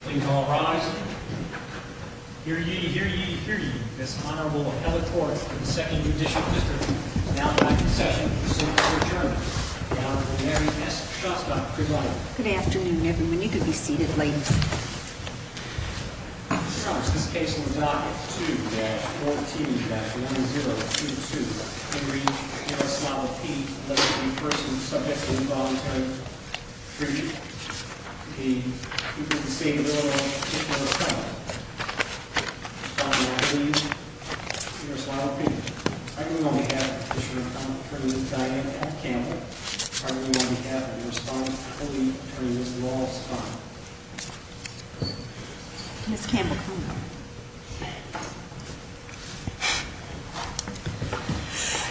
Please all rise. Here you hear you hear you. This Honorable Electoral Second Judicial District Good afternoon, everyone. You could be seated, ladies. This case was not team three. First, three. Caution. This candidate.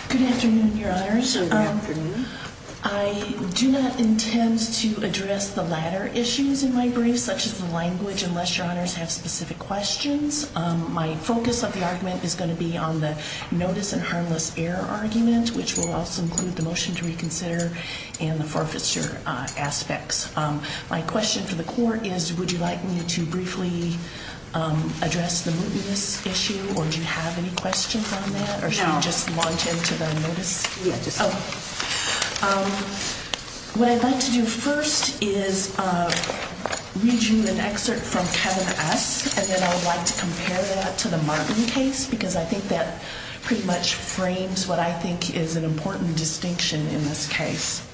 Good afternoon, your Honor's. Good afternoon. I do not intend to address the latter issues in my brief, such as the language, unless your Honors have specific questions. My focus of the argument is going to be on the notice and harmless error argument, which will also include the motion to reconsider and the forfeiture aspects. My question for the court is, would you like me to briefly address the mootness issue? Or do you have any questions on that? Or should we just launch into the notice? Yeah, just say it. What I'd like to do first is read you an excerpt from Kevin S. And then I'd like to compare that to the Martin case, because I think that pretty much frames what I think is an important distinction in this case.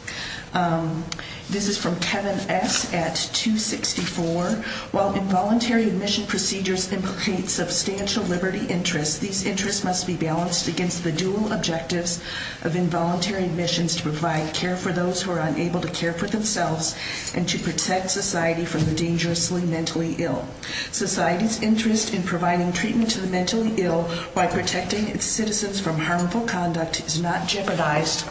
This is from Kevin S. at 264. While involuntary admission procedures implicate substantial liberty interests, these interests must be balanced against the dual objectives of involuntary admissions to provide care for those who are unable to care for themselves and to protect society from the dangerously mentally ill. Society's interest in providing treatment to the mentally ill by protecting its citizens from harmful conduct is not jeopardized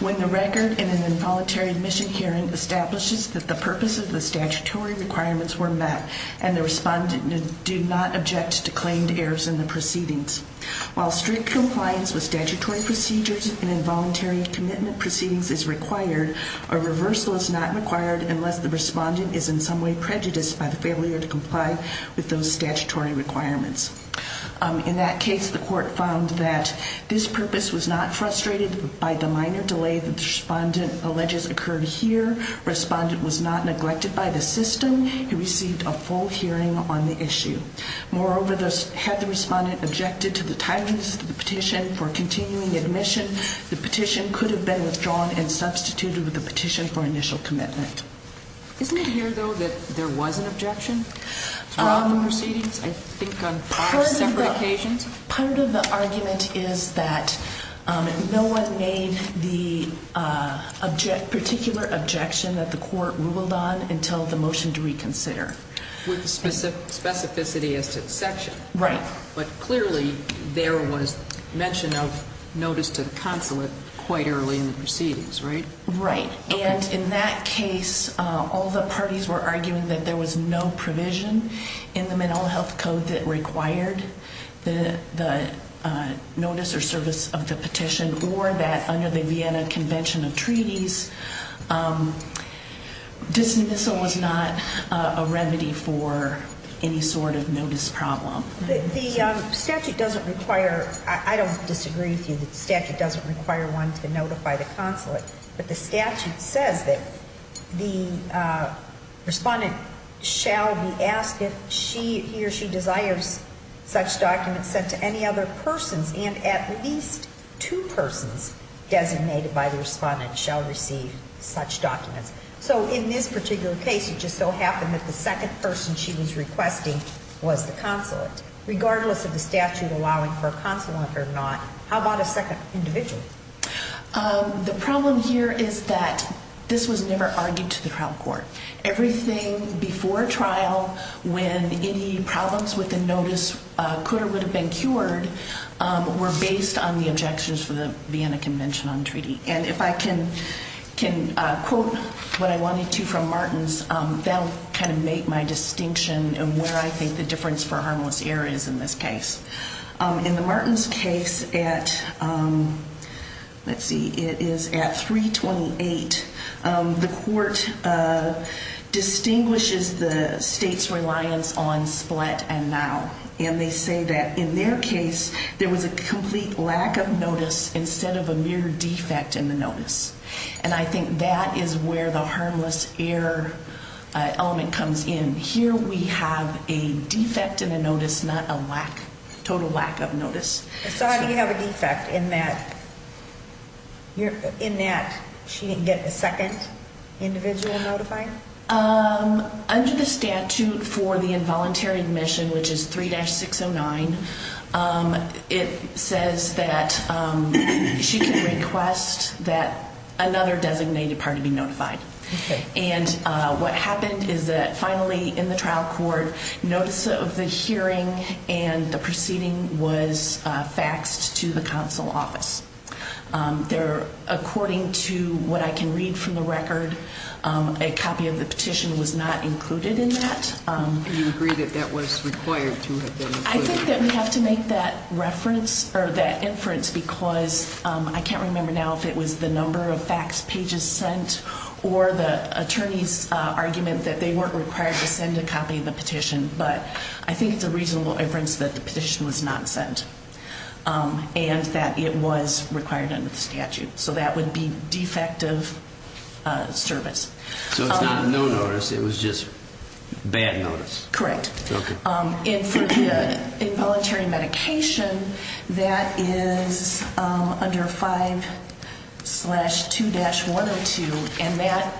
when the record in an involuntary admission hearing establishes that the purpose of the statutory requirements were met and the respondent did not object to claimed errors in the proceedings. While strict compliance with statutory procedures and involuntary commitment proceedings is required, a reversal is not required unless the respondent is in some way prejudiced by the failure to comply with those statutory requirements. In that case, the court found that this purpose was not frustrated by the minor delay that the respondent alleges occurred here. Respondent was not neglected by the system. He received a full hearing on the issue. Moreover, had the respondent objected to the timeliness of the petition for continuing admission, the petition could have been withdrawn and substituted with a petition for initial commitment. Isn't it here, though, that there was an objection throughout the proceedings? I think on five separate occasions? Part of the argument is that no one made the particular objection that the court ruled on until the motion to reconsider. With specificity as to section. Right. But clearly, there was mention of notice to the consulate quite early in the proceedings, right? Right. And in that case, all the parties were arguing that there was no provision in the Menlo Health Code that required the notice or service of the petition, or that under the Vienna Convention of Treaties, this was not a remedy for any sort of notice problem. The statute doesn't require, I don't disagree with you, that the statute doesn't require one to notify the consulate. But the statute says that the respondent shall be asked if he or she desires such documents sent to any other persons, and at least two persons designated by the respondent shall receive such documents. So in this particular case, it just so happened that the second person she was requesting was the consulate. Regardless of the statute allowing for a consulate or not, how about a second individual? The problem here is that this was never argued to the trial court. Everything before trial, when any problems with the notice could or would have been cured, were based on the objections for the Vienna Convention on Treaty. And if I can quote what I wanted to from Martin's, that'll make my distinction of where I think the difference for harmless error is in this case. In the Martin's case at 328, the court distinguishes the state's reliance on split and now. And they say that in their case, there was a complete lack of notice instead of a mere defect in the notice. And I think that is where the harmless error element comes in. Here we have a defect in the notice, not a total lack of notice. So how do you have a defect in that she didn't get a second individual notified? Under the statute for the involuntary admission, which is 3-609, it says that she can request that another designated party be notified. And what happened is that finally in the trial court, notice of the hearing and the proceeding was faxed to the council office. According to what I can read from the record, a copy of the petition was not included in that. You agree that that was required to have been included. I think that we have to make that reference or that inference because I can't remember now if it was the number of fax pages sent or the attorney's argument that they weren't required to send a copy of the petition. But I think it's a reasonable inference that the petition was not sent and that it was required under the statute. So that would be defective service. So it's not a no notice. It was just bad notice. Correct. And for involuntary medication, that is under 5-2-102. And that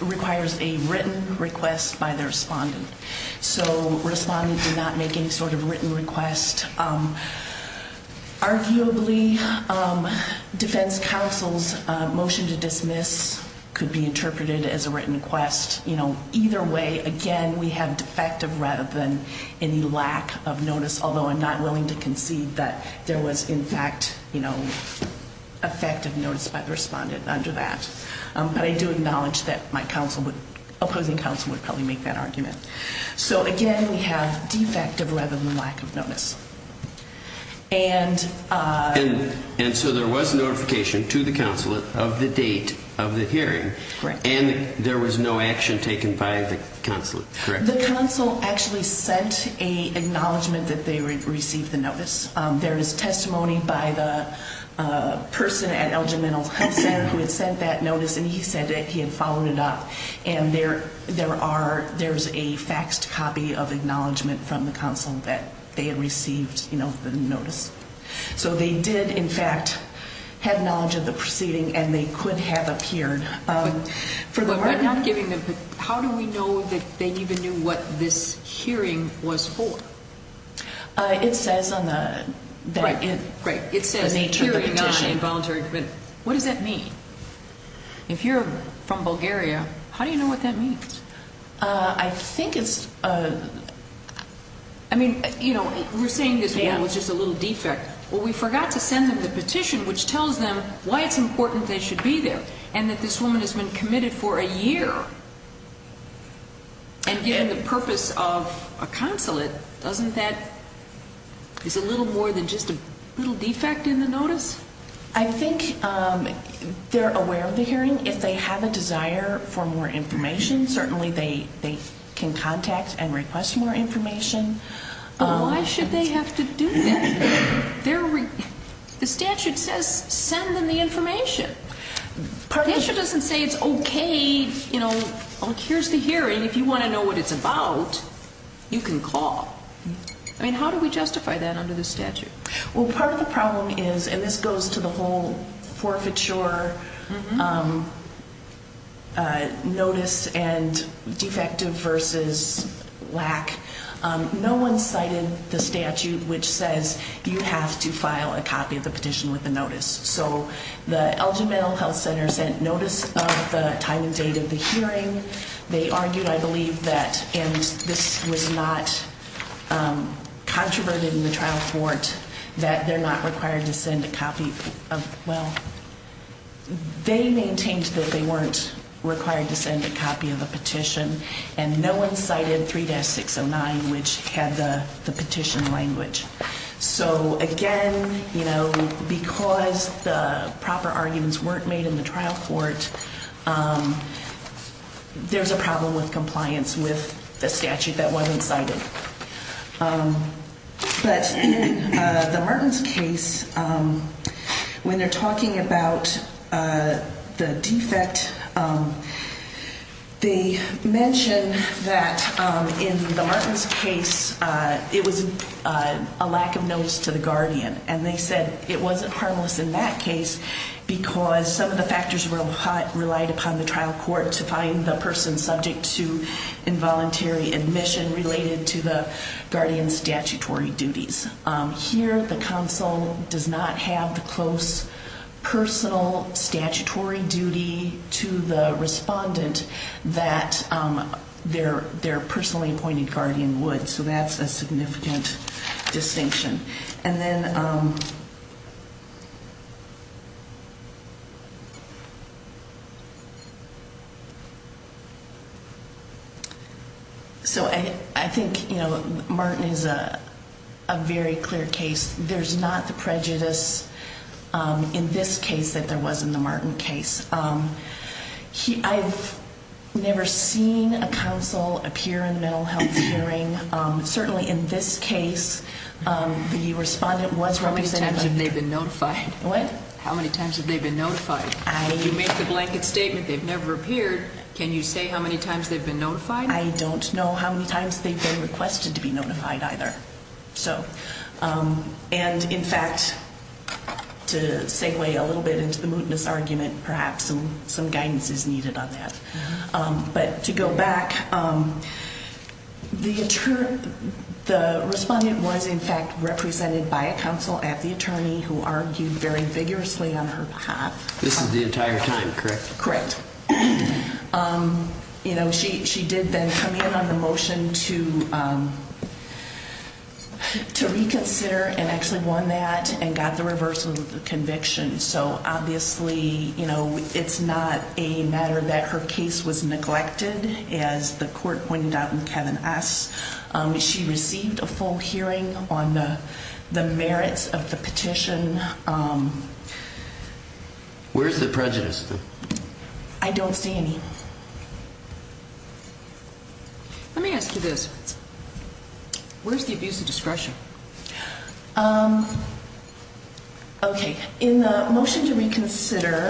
requires a written request by the respondent. So respondent did not make any sort of written request. Arguably, defense counsel's motion to dismiss could be interpreted as a written request. Either way, again, we have defective rather than any lack of notice. Although I'm not willing to concede that there was, in fact, effective notice by the respondent under that. But I do acknowledge that my opposing counsel would probably make that argument. So again, we have defective rather than lack of notice. And so there was notification to the counsel of the date of the hearing. And there was no action taken by the counsel, correct? The counsel actually sent a acknowledgment that they received the notice. There is testimony by the person at El Gimeno Health Center who had sent that notice. And he said that he had followed it up. And there's a faxed copy of acknowledgment from the counsel that they had received the notice. So they did, in fact, have knowledge of the proceeding. And they could have appeared. But we're not giving them. How do we know that they even knew what this hearing was for? It says on the nature of the petition. Right. It says hearing not involuntary. What does that mean? If you're from Bulgaria, how do you know what that means? I think it's a, I mean, we're saying this was just a little defect. Well, we forgot to send them the petition, which tells them why it's important they should be there, and that this woman has been committed for a year. And given the purpose of a consulate, doesn't that, is a little more than just a little defect in the notice? I think they're aware of the hearing. If they have a desire for more information, certainly they can contact and request more information. Why should they have to do that? The statute says, send them the information. The statute doesn't say, it's OK, here's the hearing. If you want to know what it's about, you can call. I mean, how do we justify that under the statute? Well, part of the problem is, and this goes to the whole forfeiture notice and defective versus lack, no one cited the statute which says, you have to file a copy of the petition with the notice. So the Elgin Mental Health Center sent notice of the time and date of the hearing. They argued, I believe, that, and this was not controverted in the trial court, that they're not required to send a copy of, well, they maintained that they weren't required to send a copy of a petition. And no one cited 3-609, which had the petition language. So again, because the proper arguments weren't made in the trial court, there's a problem with compliance with the statute that wasn't cited. But the Mertens case, when they're talking about the defect, they mention that in the Mertens case, it was a lack of notice to the guardian. And they said it wasn't harmless in that case because some of the factors relied upon the trial court to find the person subject to involuntary admission related to the guardian's statutory duties. Here, the counsel does not have the close personal statutory duty to the respondent that their personally appointed guardian would. So that's a significant distinction. And then, so I think Mertens is a very clear case. There's not the prejudice in this case that there was in the Mertens case. I've never seen a counsel appear in a mental health hearing. Certainly, in this case, the respondent was represented by the guardian. How many times have they been notified? How many times have they been notified? If you make the blanket statement, they've never appeared, can you say how many times they've been notified? I don't know how many times they've been requested to be notified either. And in fact, to segue a little bit into the mootness argument, perhaps some guidance is needed on that. But to go back, the respondent was, in fact, represented by a counsel at the attorney who argued very vigorously on her behalf. This is the entire time, correct? Correct. She did then come in on the motion to reconsider and actually won that and got the reversal of the conviction. So obviously, it's not a matter that her case was neglected, as the court pointed out in Kevin S. She received a full hearing on the merits of the petition. Where's the prejudice? I don't see any. Let me ask you this. Where's the abuse of discretion? Um, OK. In the motion to reconsider,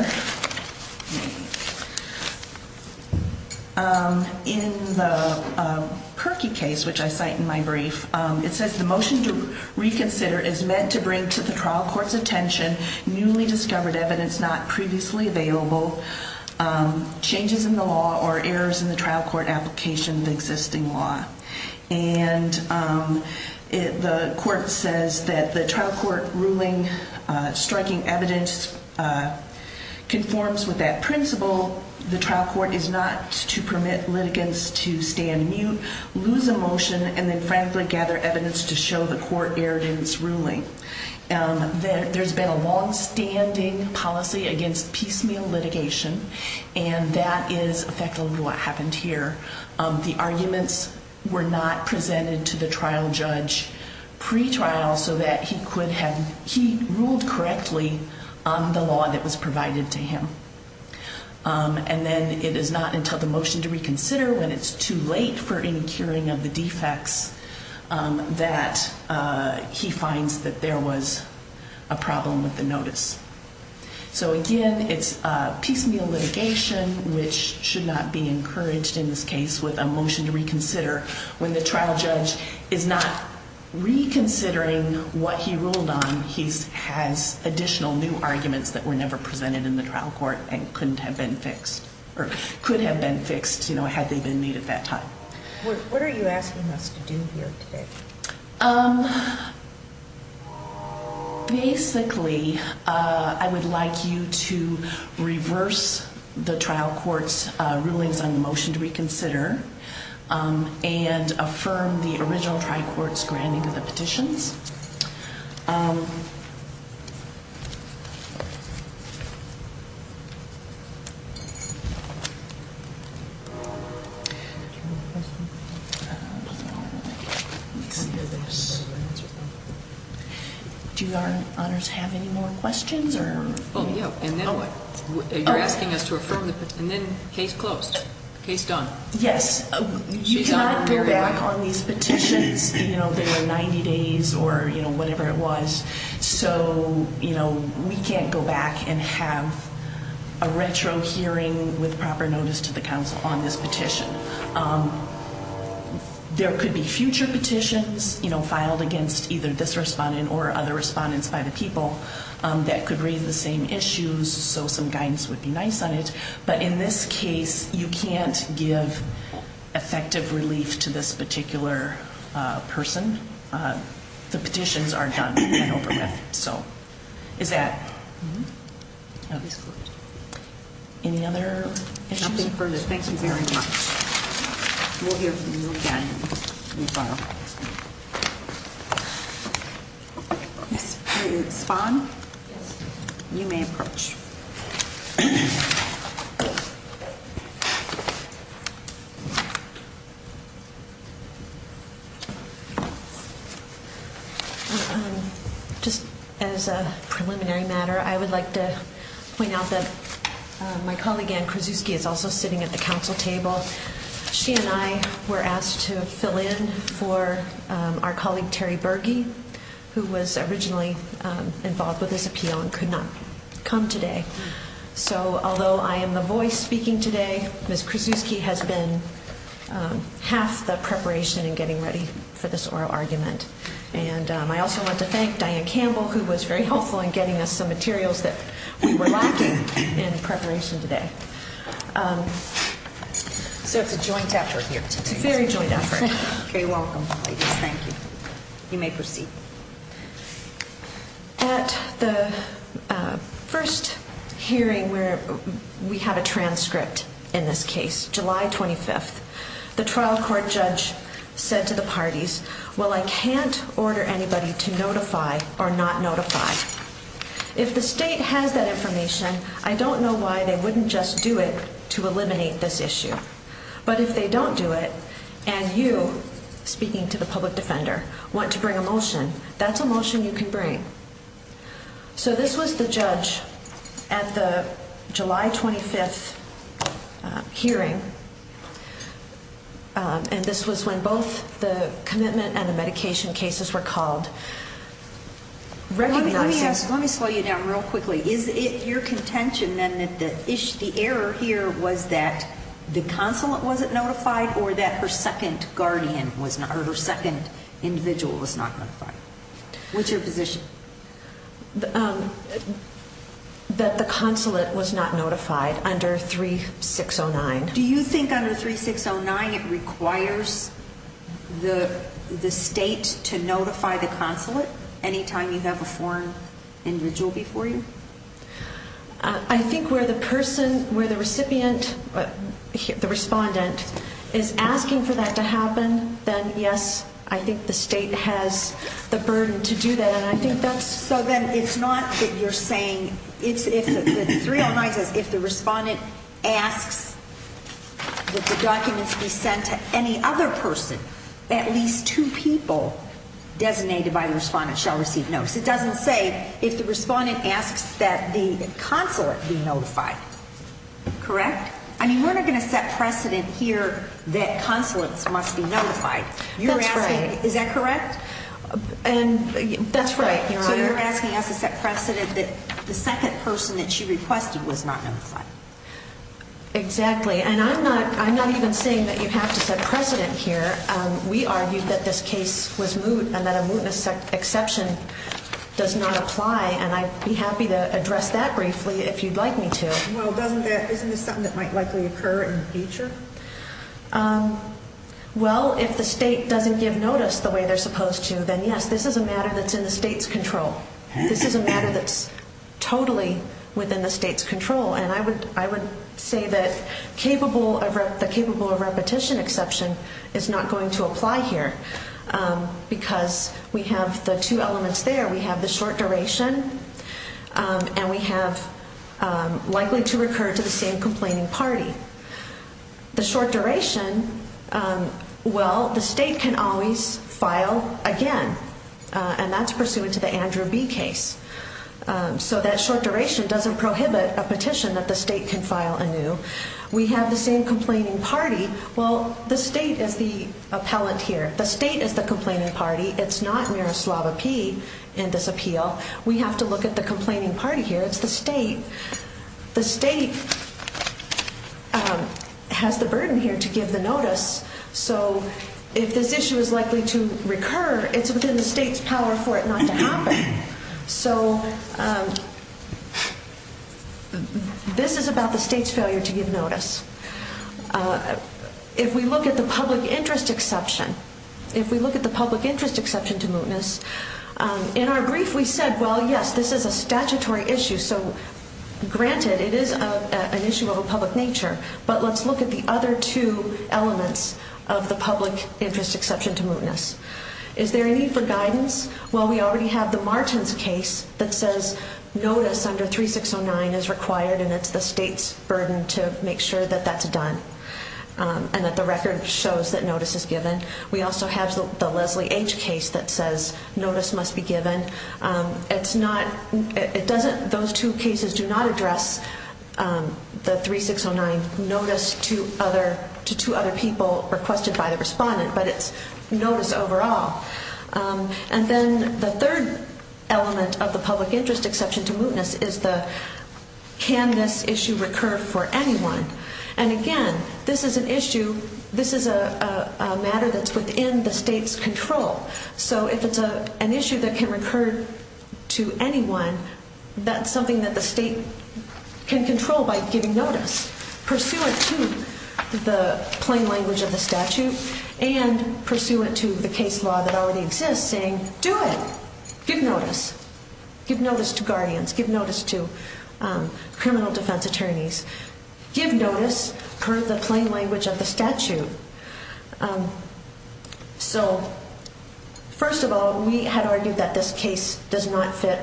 in the Perkey case, which I cite in my brief, it says the motion to reconsider is meant to bring to the trial court's attention newly discovered evidence not previously available, changes in the law, or errors in the trial court application of the existing law. And the court says that the trial court ruling striking evidence conforms with that principle. The trial court is not to permit litigants to stand mute, lose a motion, and then frantically gather evidence to show the court erred in its ruling. There's been a longstanding policy against piecemeal litigation. And that is effectively what happened here. The arguments were not presented to the trial judge pre-trial so that he could have, he ruled correctly on the law that was provided to him. And then it is not until the motion to reconsider when it's too late for any curing of the defects that he finds that there was a problem with the notice. So again, it's piecemeal litigation, which should not be encouraged in this case with a motion to reconsider. When the trial judge is not reconsidering what he ruled on, he has additional new arguments that were never presented in the trial court and couldn't have been fixed, or could have been fixed, had they been made at that time. What are you asking us to do here today? Um, basically, I would like you to reverse the trial court's rulings on the motion to reconsider and affirm the original trial court's granting of the petitions. Yes. Do our honors have any more questions, or? Oh, yeah. And then what? You're asking us to affirm the petitions. And then case closed. Case done. Yes. You cannot go back on these petitions. You know, they were 90 days, or whatever it was. So we can't go back and have a retro hearing with proper notice to the council on this petition. Um, there could be future petitions, you know, filed against either this respondent or other respondents by the people that could raise the same issues. So some guidance would be nice on it. But in this case, you can't give effective relief to this particular person. The petitions are done and over with. So is that? Case closed. Any other issues? Nothing further. Thank you very much. We'll hear from you again in a while. Yes. Spahn? Yes. You may approach. Just as a preliminary matter, I would like to point out that my colleague Anne Krasuski is also sitting at the council table. She and I were asked to fill in for our colleague Terry Berge, who was originally involved with this appeal and could not come today. So although I am the voice speaking today, Ms. Krasuski has been half the preparation in getting ready for this oral argument. And I also want to thank Diane Campbell, who was very helpful in getting us some materials that we were lacking in preparation today. So it's a joint effort here today. It's a very joint effort. OK, welcome, ladies. Thank you. You may proceed. At the first hearing where we had a transcript in this case, July 25th, the trial court judge said to the parties, well, I can't order anybody to notify or not notify. If the state has that information, I don't know why they wouldn't just do it to eliminate this issue. But if they don't do it, and you, speaking to the public defender, want to bring a motion, that's a motion you can bring. So this was the judge at the July 25th hearing. And this was when both the commitment and the medication cases were called. Let me slow you down real quickly. Is it your contention, then, that the error here was that the consulate wasn't notified or that her second individual was not notified? What's your position? That the consulate was not notified under 3609. Do you think under 3609 it requires the state to notify the consulate any time you have a foreign individual before you? I think where the person, where the recipient, the respondent, is asking for that to happen, then yes, I think the state has the burden to do that. And I think that's so that it's not that you're saying, it's if the 3609 says, if the respondent asks that the documents be sent to any other person, at least two people designated by the respondent shall receive notes. It doesn't say, if the respondent asks that the consulate be notified. Correct? I mean, we're not going to set precedent here that consulates must be notified. That's right. Is that correct? That's right, Your Honor. So you're asking us to set precedent that the second person that she requested was not notified. Exactly. And I'm not even saying that you have to set precedent here. We argued that this case was moot and that a mootness exception does not apply. And I'd be happy to address that briefly if you'd like me to. Well, isn't this something that might likely occur in the future? Well, if the state doesn't give notice the way they're supposed to, then yes, this is a matter that's in the state's control. This is a matter that's totally within the state's control. And I would say that the capable of repetition exception is not going to apply here because we have the two elements there. We have the short duration, and we have likely to recur to the same complaining party. The short duration, well, the state can always file again. And that's pursuant to the Andrew B case. So that short duration doesn't prohibit a petition that the state can file anew. We have the same complaining party. Well, the state is the appellant here. The state is the complaining party. It's not Miroslava P in this appeal. We have to look at the complaining party here. It's the state. The state has the burden here to give the notice. So if this issue is likely to recur, it's within the state's power for it not to happen. So this is about the state's failure to give notice. If we look at the public interest exception, if we look at the public interest exception to mootness, in our brief we said, well, yes, this is a statutory issue. So granted, it is an issue of a public nature. But let's look at the other two elements of the public interest exception to mootness. Is there a need for guidance? Well, we already have the Martins case that says notice under 3609 is required, and it's the state's burden to make sure that that's done and that the record shows that notice is given. We also have the Leslie H case that says notice must be given. Those two cases do not address the 3609 notice to two other people requested by the respondent, but it's notice overall. And then the third element of the public interest exception to mootness is the, can this issue recur for anyone? And again, this is an issue, this is a matter that's within the state's control. So if it's an issue that can recur to anyone, that's something that the state can control by giving notice, pursuant to the plain language of the statute and pursuant to the case law that already exists saying, do it, give notice, give notice to guardians, give notice to criminal defense attorneys, give notice per the plain language of the statute. So first of all, we had argued that this case does not fit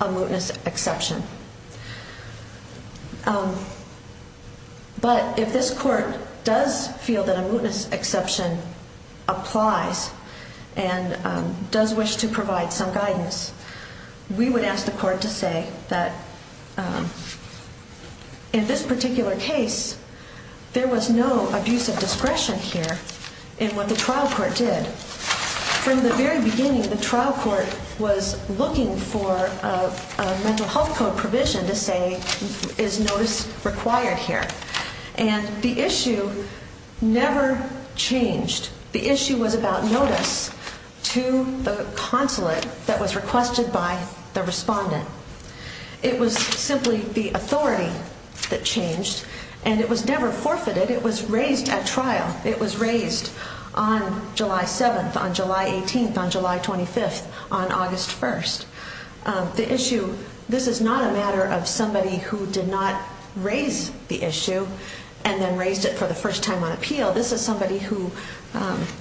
a mootness exception. But if this court does feel that a mootness exception applies and does wish to provide some guidance, we would ask the court to say that in this particular case, there was no abuse of discretion here in what the trial court did. From the very beginning, the trial court was looking for a mental health program or some provision to say, is notice required here? And the issue never changed. The issue was about notice to the consulate that was requested by the respondent. It was simply the authority that changed, and it was never forfeited. It was raised at trial. It was raised on July 7th, on July 18th, on July 25th, on August 1st. The issue, this is not a matter of somebody who did not raise the issue and then raised it for the first time on appeal. This is somebody who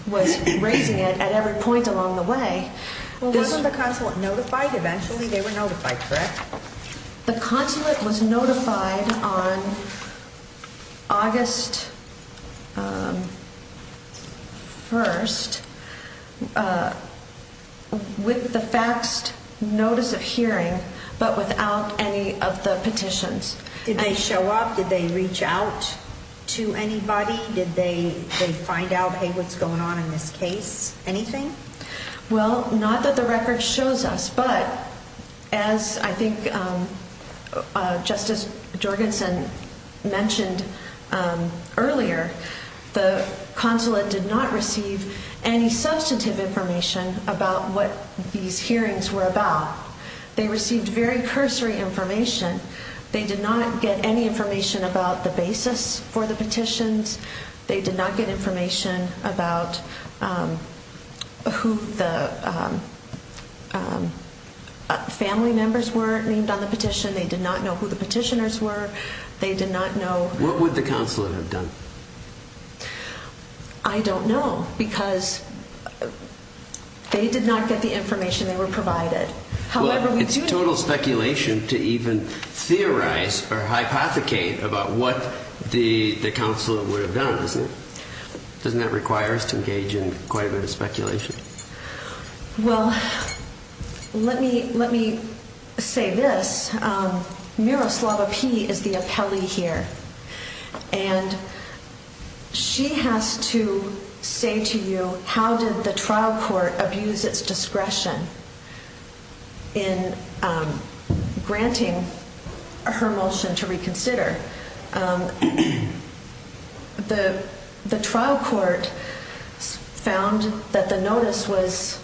was raising it at every point along the way. Well, wasn't the consulate notified eventually? They were notified, correct? The consulate was notified on August 1st with the faxed notice of hearing, but without any of the petitions. Did they show up? Did they reach out to anybody? Did they find out, hey, what's going on in this case? Anything? Well, not that the record shows us, but as I think Justice Jorgensen mentioned earlier, the consulate did not receive any substantive information about what these hearings were about. They received very cursory information. They did not get any information about the basis for the petitions. They did not get information about who the family members were named on the petition. They did not know who the petitioners were. They did not know... I don't know, because they did not get the information they were provided. However, we do know... Well, it's total speculation to even theorize or hypothecate about what the consulate would have done, isn't it? Doesn't that require us to engage in quite a bit of speculation? Well, let me say this. Miroslava P. is the appellee here, and she has to say to you, how did the trial court abuse its discretion in granting her motion to reconsider? The trial court found that the notice was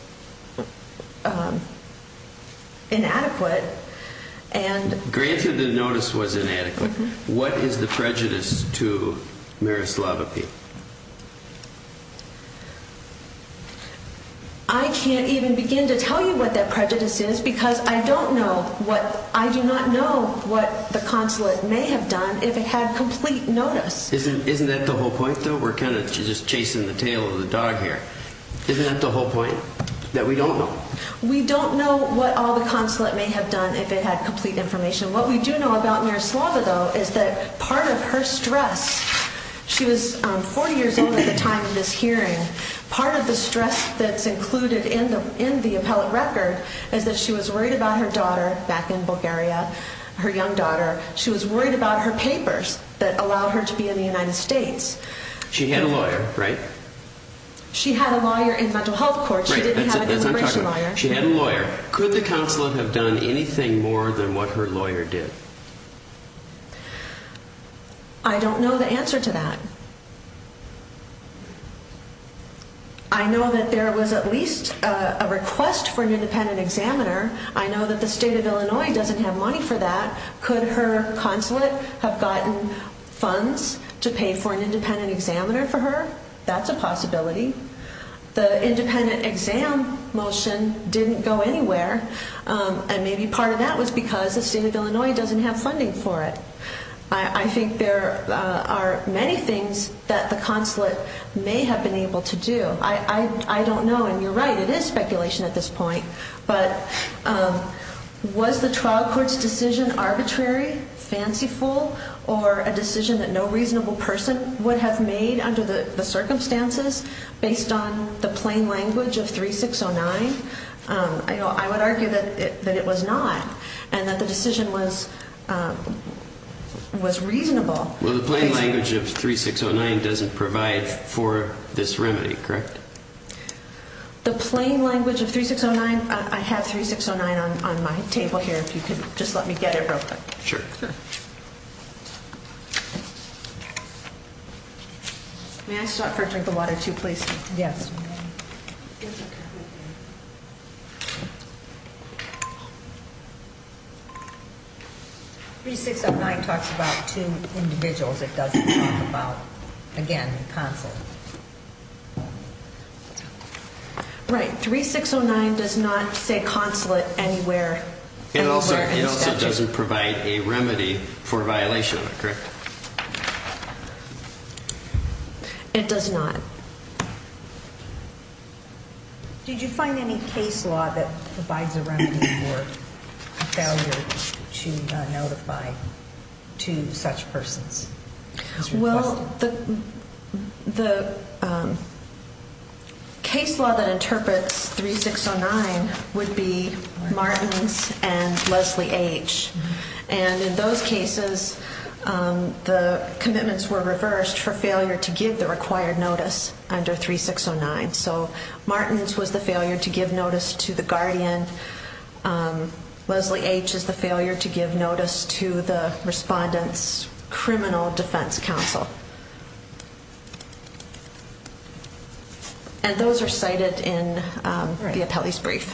inadequate and... Granted the notice was inadequate. What is the prejudice to Miroslava P.? I can't even begin to tell you what that prejudice is because I don't know what... I do not know what the consulate may have done if it had complete notice. Isn't that the whole point, though? We're kind of just chasing the tail of the dog here. Isn't that the whole point, that we don't know? We don't know what all the consulate may have done if it had complete information. What we do know about Miroslava, though, is that part of her stress... She was 40 years old at the time of this hearing. Part of the stress that's included in the appellate record is that she was worried about her daughter, back in Bulgaria, her young daughter. She was worried about her papers that allowed her to be in the United States. She had a lawyer, right? She had a lawyer in mental health court. She didn't have an immigration lawyer. She had a lawyer. Could the consulate have done anything more than what her lawyer did? I don't know the answer to that. I know that there was at least a request for an independent examiner. I know that the state of Illinois doesn't have money for that. Could her consulate have gotten funds to pay for an independent examiner for her? That's a possibility. The independent exam motion didn't go anywhere. And maybe part of that was because the state of Illinois doesn't have funding for it. I think there are many things that the consulate may have been able to do. I don't know, and you're right, it is speculation at this point. But was the trial court's decision arbitrary, fanciful, or a decision that no reasonable person would have made under the circumstances? Based on the plain language of 3609, I would argue that it was not, and that the decision was reasonable. Well, the plain language of 3609 doesn't provide for this remedy, correct? The plain language of 3609, I have 3609 on my table here, if you could just let me get it real quick. Sure. May I stop for a drink of water, too, please? Yes. 3609 talks about two individuals. It doesn't talk about, again, the consulate. Right, 3609 does not say consulate anywhere. It also doesn't provide a remedy for a violation of it, correct? It does not. Did you find any case law that provides a remedy for a failure to notify two such persons? Well, the case law that interprets 3609 would be Martin's and Leslie H. And in those cases, the commitments were reversed for failure to give the required notice under 3609. So Martin's was the failure to give notice to the guardian. Leslie H. is the failure to give notice to the respondent's criminal defense counsel. And those are cited in the appellee's brief.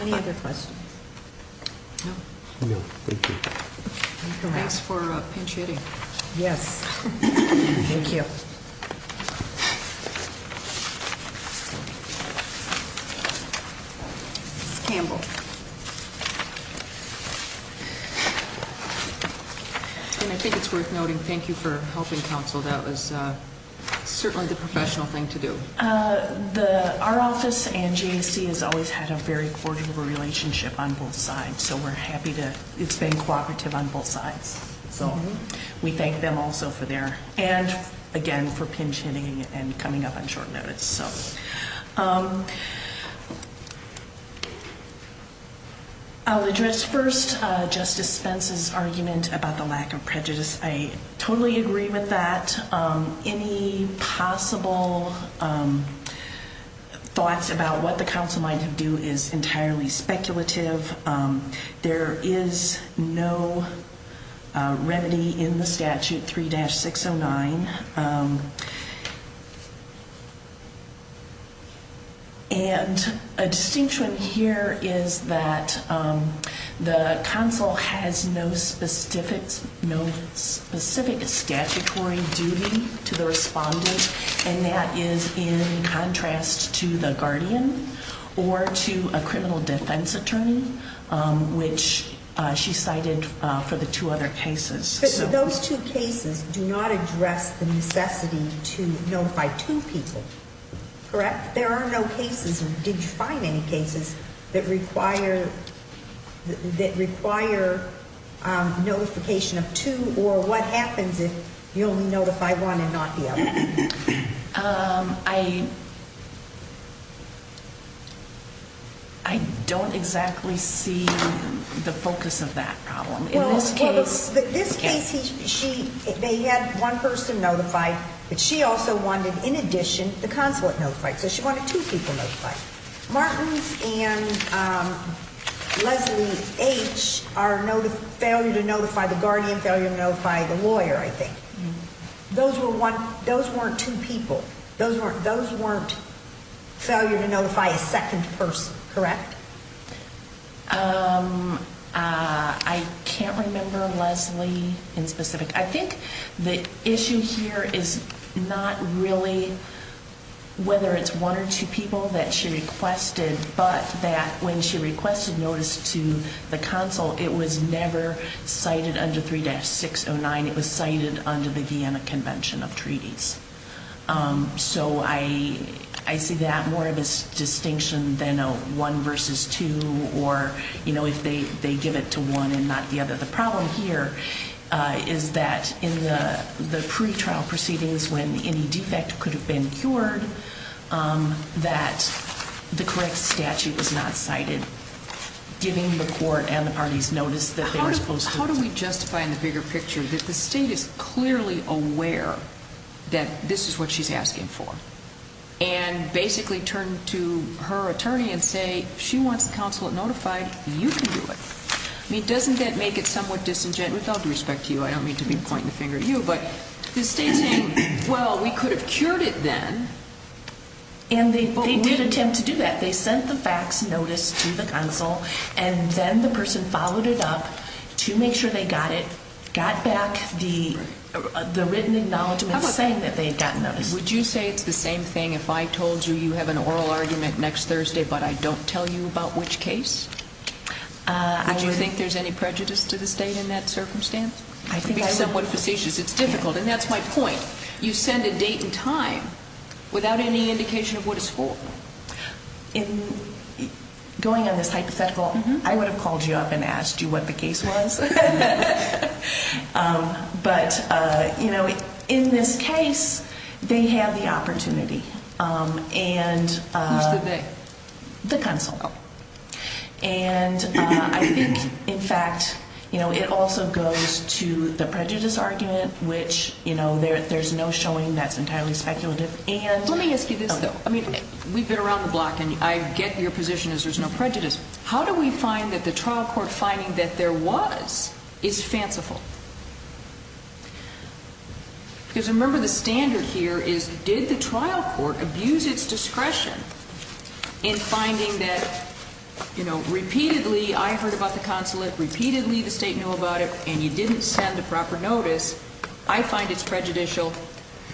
Okay. Any other questions? No. No, thank you. Thanks for pinch-hitting. Yes. Thank you. Scamble. And I think it's worth noting, thank you for helping counsel. That was certainly the professional thing to do. Our office and GAC has always had a very cordial relationship on both sides. So we're happy to... It's been cooperative on both sides. So we thank them also for their... And again, for pinch-hitting and coming up on short notice. I'll address first Justice Spence's argument about the lack of prejudice. I totally agree with that. Any possible thoughts about what the counsel might do is entirely speculative. There is no remedy in the statute 3-609. And a distinction here is that the counsel has no specific statutory duty to the respondent. And that is in contrast to the guardian or to a criminal defense attorney, which she cited for the two other cases. But those two cases do not address the necessity to notify two people, correct? There are no cases, or did you find any cases, that require notification of two? Or what happens if you only notify one and not the other? I don't exactly see the focus of that problem in this case. In this case, they had one person notified, but she also wanted, in addition, the consulate notified. So she wanted two people notified. Martins and Leslie H. are failure to notify the guardian, failure to notify the lawyer, I think. Those weren't two people. Those weren't failure to notify a second person, correct? I can't remember Leslie in specific. I think the issue here is not really whether it's one or two people that she requested, but that when she requested notice to the consul, it was never cited under 3-609. It was cited under the Vienna Convention of Treaties. So I see that more of a distinction than a one versus two, or if they give it to one and not the other. The problem here is that in the pretrial proceedings, it was when any defect could have been cured that the correct statute was not cited, giving the court and the parties notice that they were supposed to. How do we justify in the bigger picture that the State is clearly aware that this is what she's asking for and basically turned to her attorney and say, if she wants the consulate notified, you can do it? I mean, doesn't that make it somewhat disingenuous? With all due respect to you, I don't mean to be pointing the finger at you, but the State's saying, well, we could have cured it then. And they did attempt to do that. They sent the fax notice to the consul, and then the person followed it up to make sure they got it, got back the written acknowledgment saying that they had gotten notice. Would you say it's the same thing if I told you you have an oral argument next Thursday but I don't tell you about which case? Would you think there's any prejudice to the State in that circumstance? It would be somewhat facetious. It's difficult, and that's my point. You send a date and time without any indication of what it's for. In going on this hypothetical, I would have called you up and asked you what the case was. But in this case, they have the opportunity. Who's the they? The consul. And I think, in fact, it also goes to the prejudice argument, which there's no showing that's entirely speculative. Let me ask you this, though. We've been around the block, and I get your position is there's no prejudice. How do we find that the trial court finding that there was is fanciful? Because remember the standard here is did the trial court abuse its discretion in finding that repeatedly I heard about the consulate, repeatedly the State knew about it, and you didn't send a proper notice. I find it's prejudicial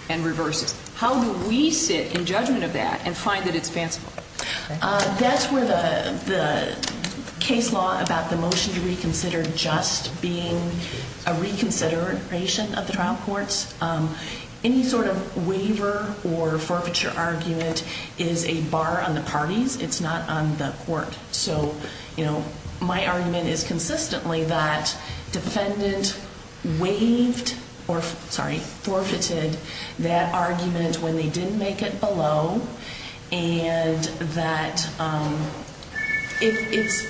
and reverse it. How do we sit in judgment of that and find that it's fanciful? That's where the case law about the motion to reconsider just being a reconsideration of the trial courts. Any sort of waiver or forfeiture argument is a bar on the parties. It's not on the court. So, you know, my argument is consistently that defendant waived or, sorry, forfeited that argument when they didn't make it below and that it's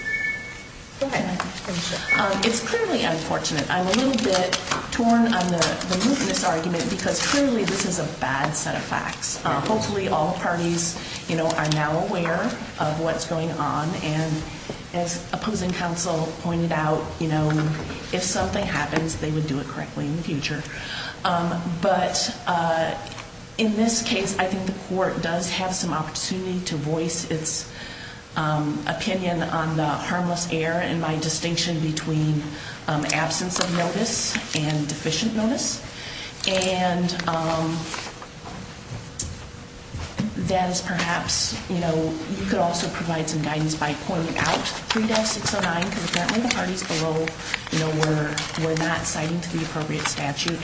clearly unfortunate. I'm a little bit torn on the mootness argument because clearly this is a bad set of facts. Hopefully all parties, you know, are now aware of what's going on. And as opposing counsel pointed out, you know, if something happens, they would do it correctly in the future. But in this case, I think the court does have some opportunity to voice its opinion on the harmless error and my distinction between absence of notice and deficient notice. And that is perhaps, you know, you could also provide some guidance by pointing out 3-609 because apparently the parties below, you know, were not citing to the appropriate statute.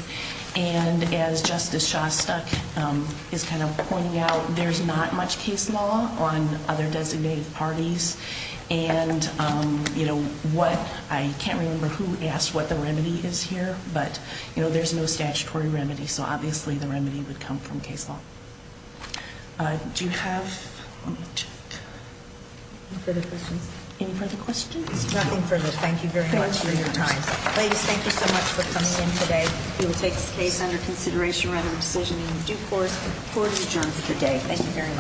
And as Justice Shostak is kind of pointing out, there's not much case law on other designated parties. And, you know, what I can't remember who asked what the remedy is here. But, you know, there's no statutory remedy. So obviously the remedy would come from case law. Do you have any further questions? Any further questions? Nothing further. Thank you very much for your time. Ladies, thank you so much for coming in today. We will take this case under consideration rather than decision in due course. Court is adjourned for today. Thank you very much. Thank you.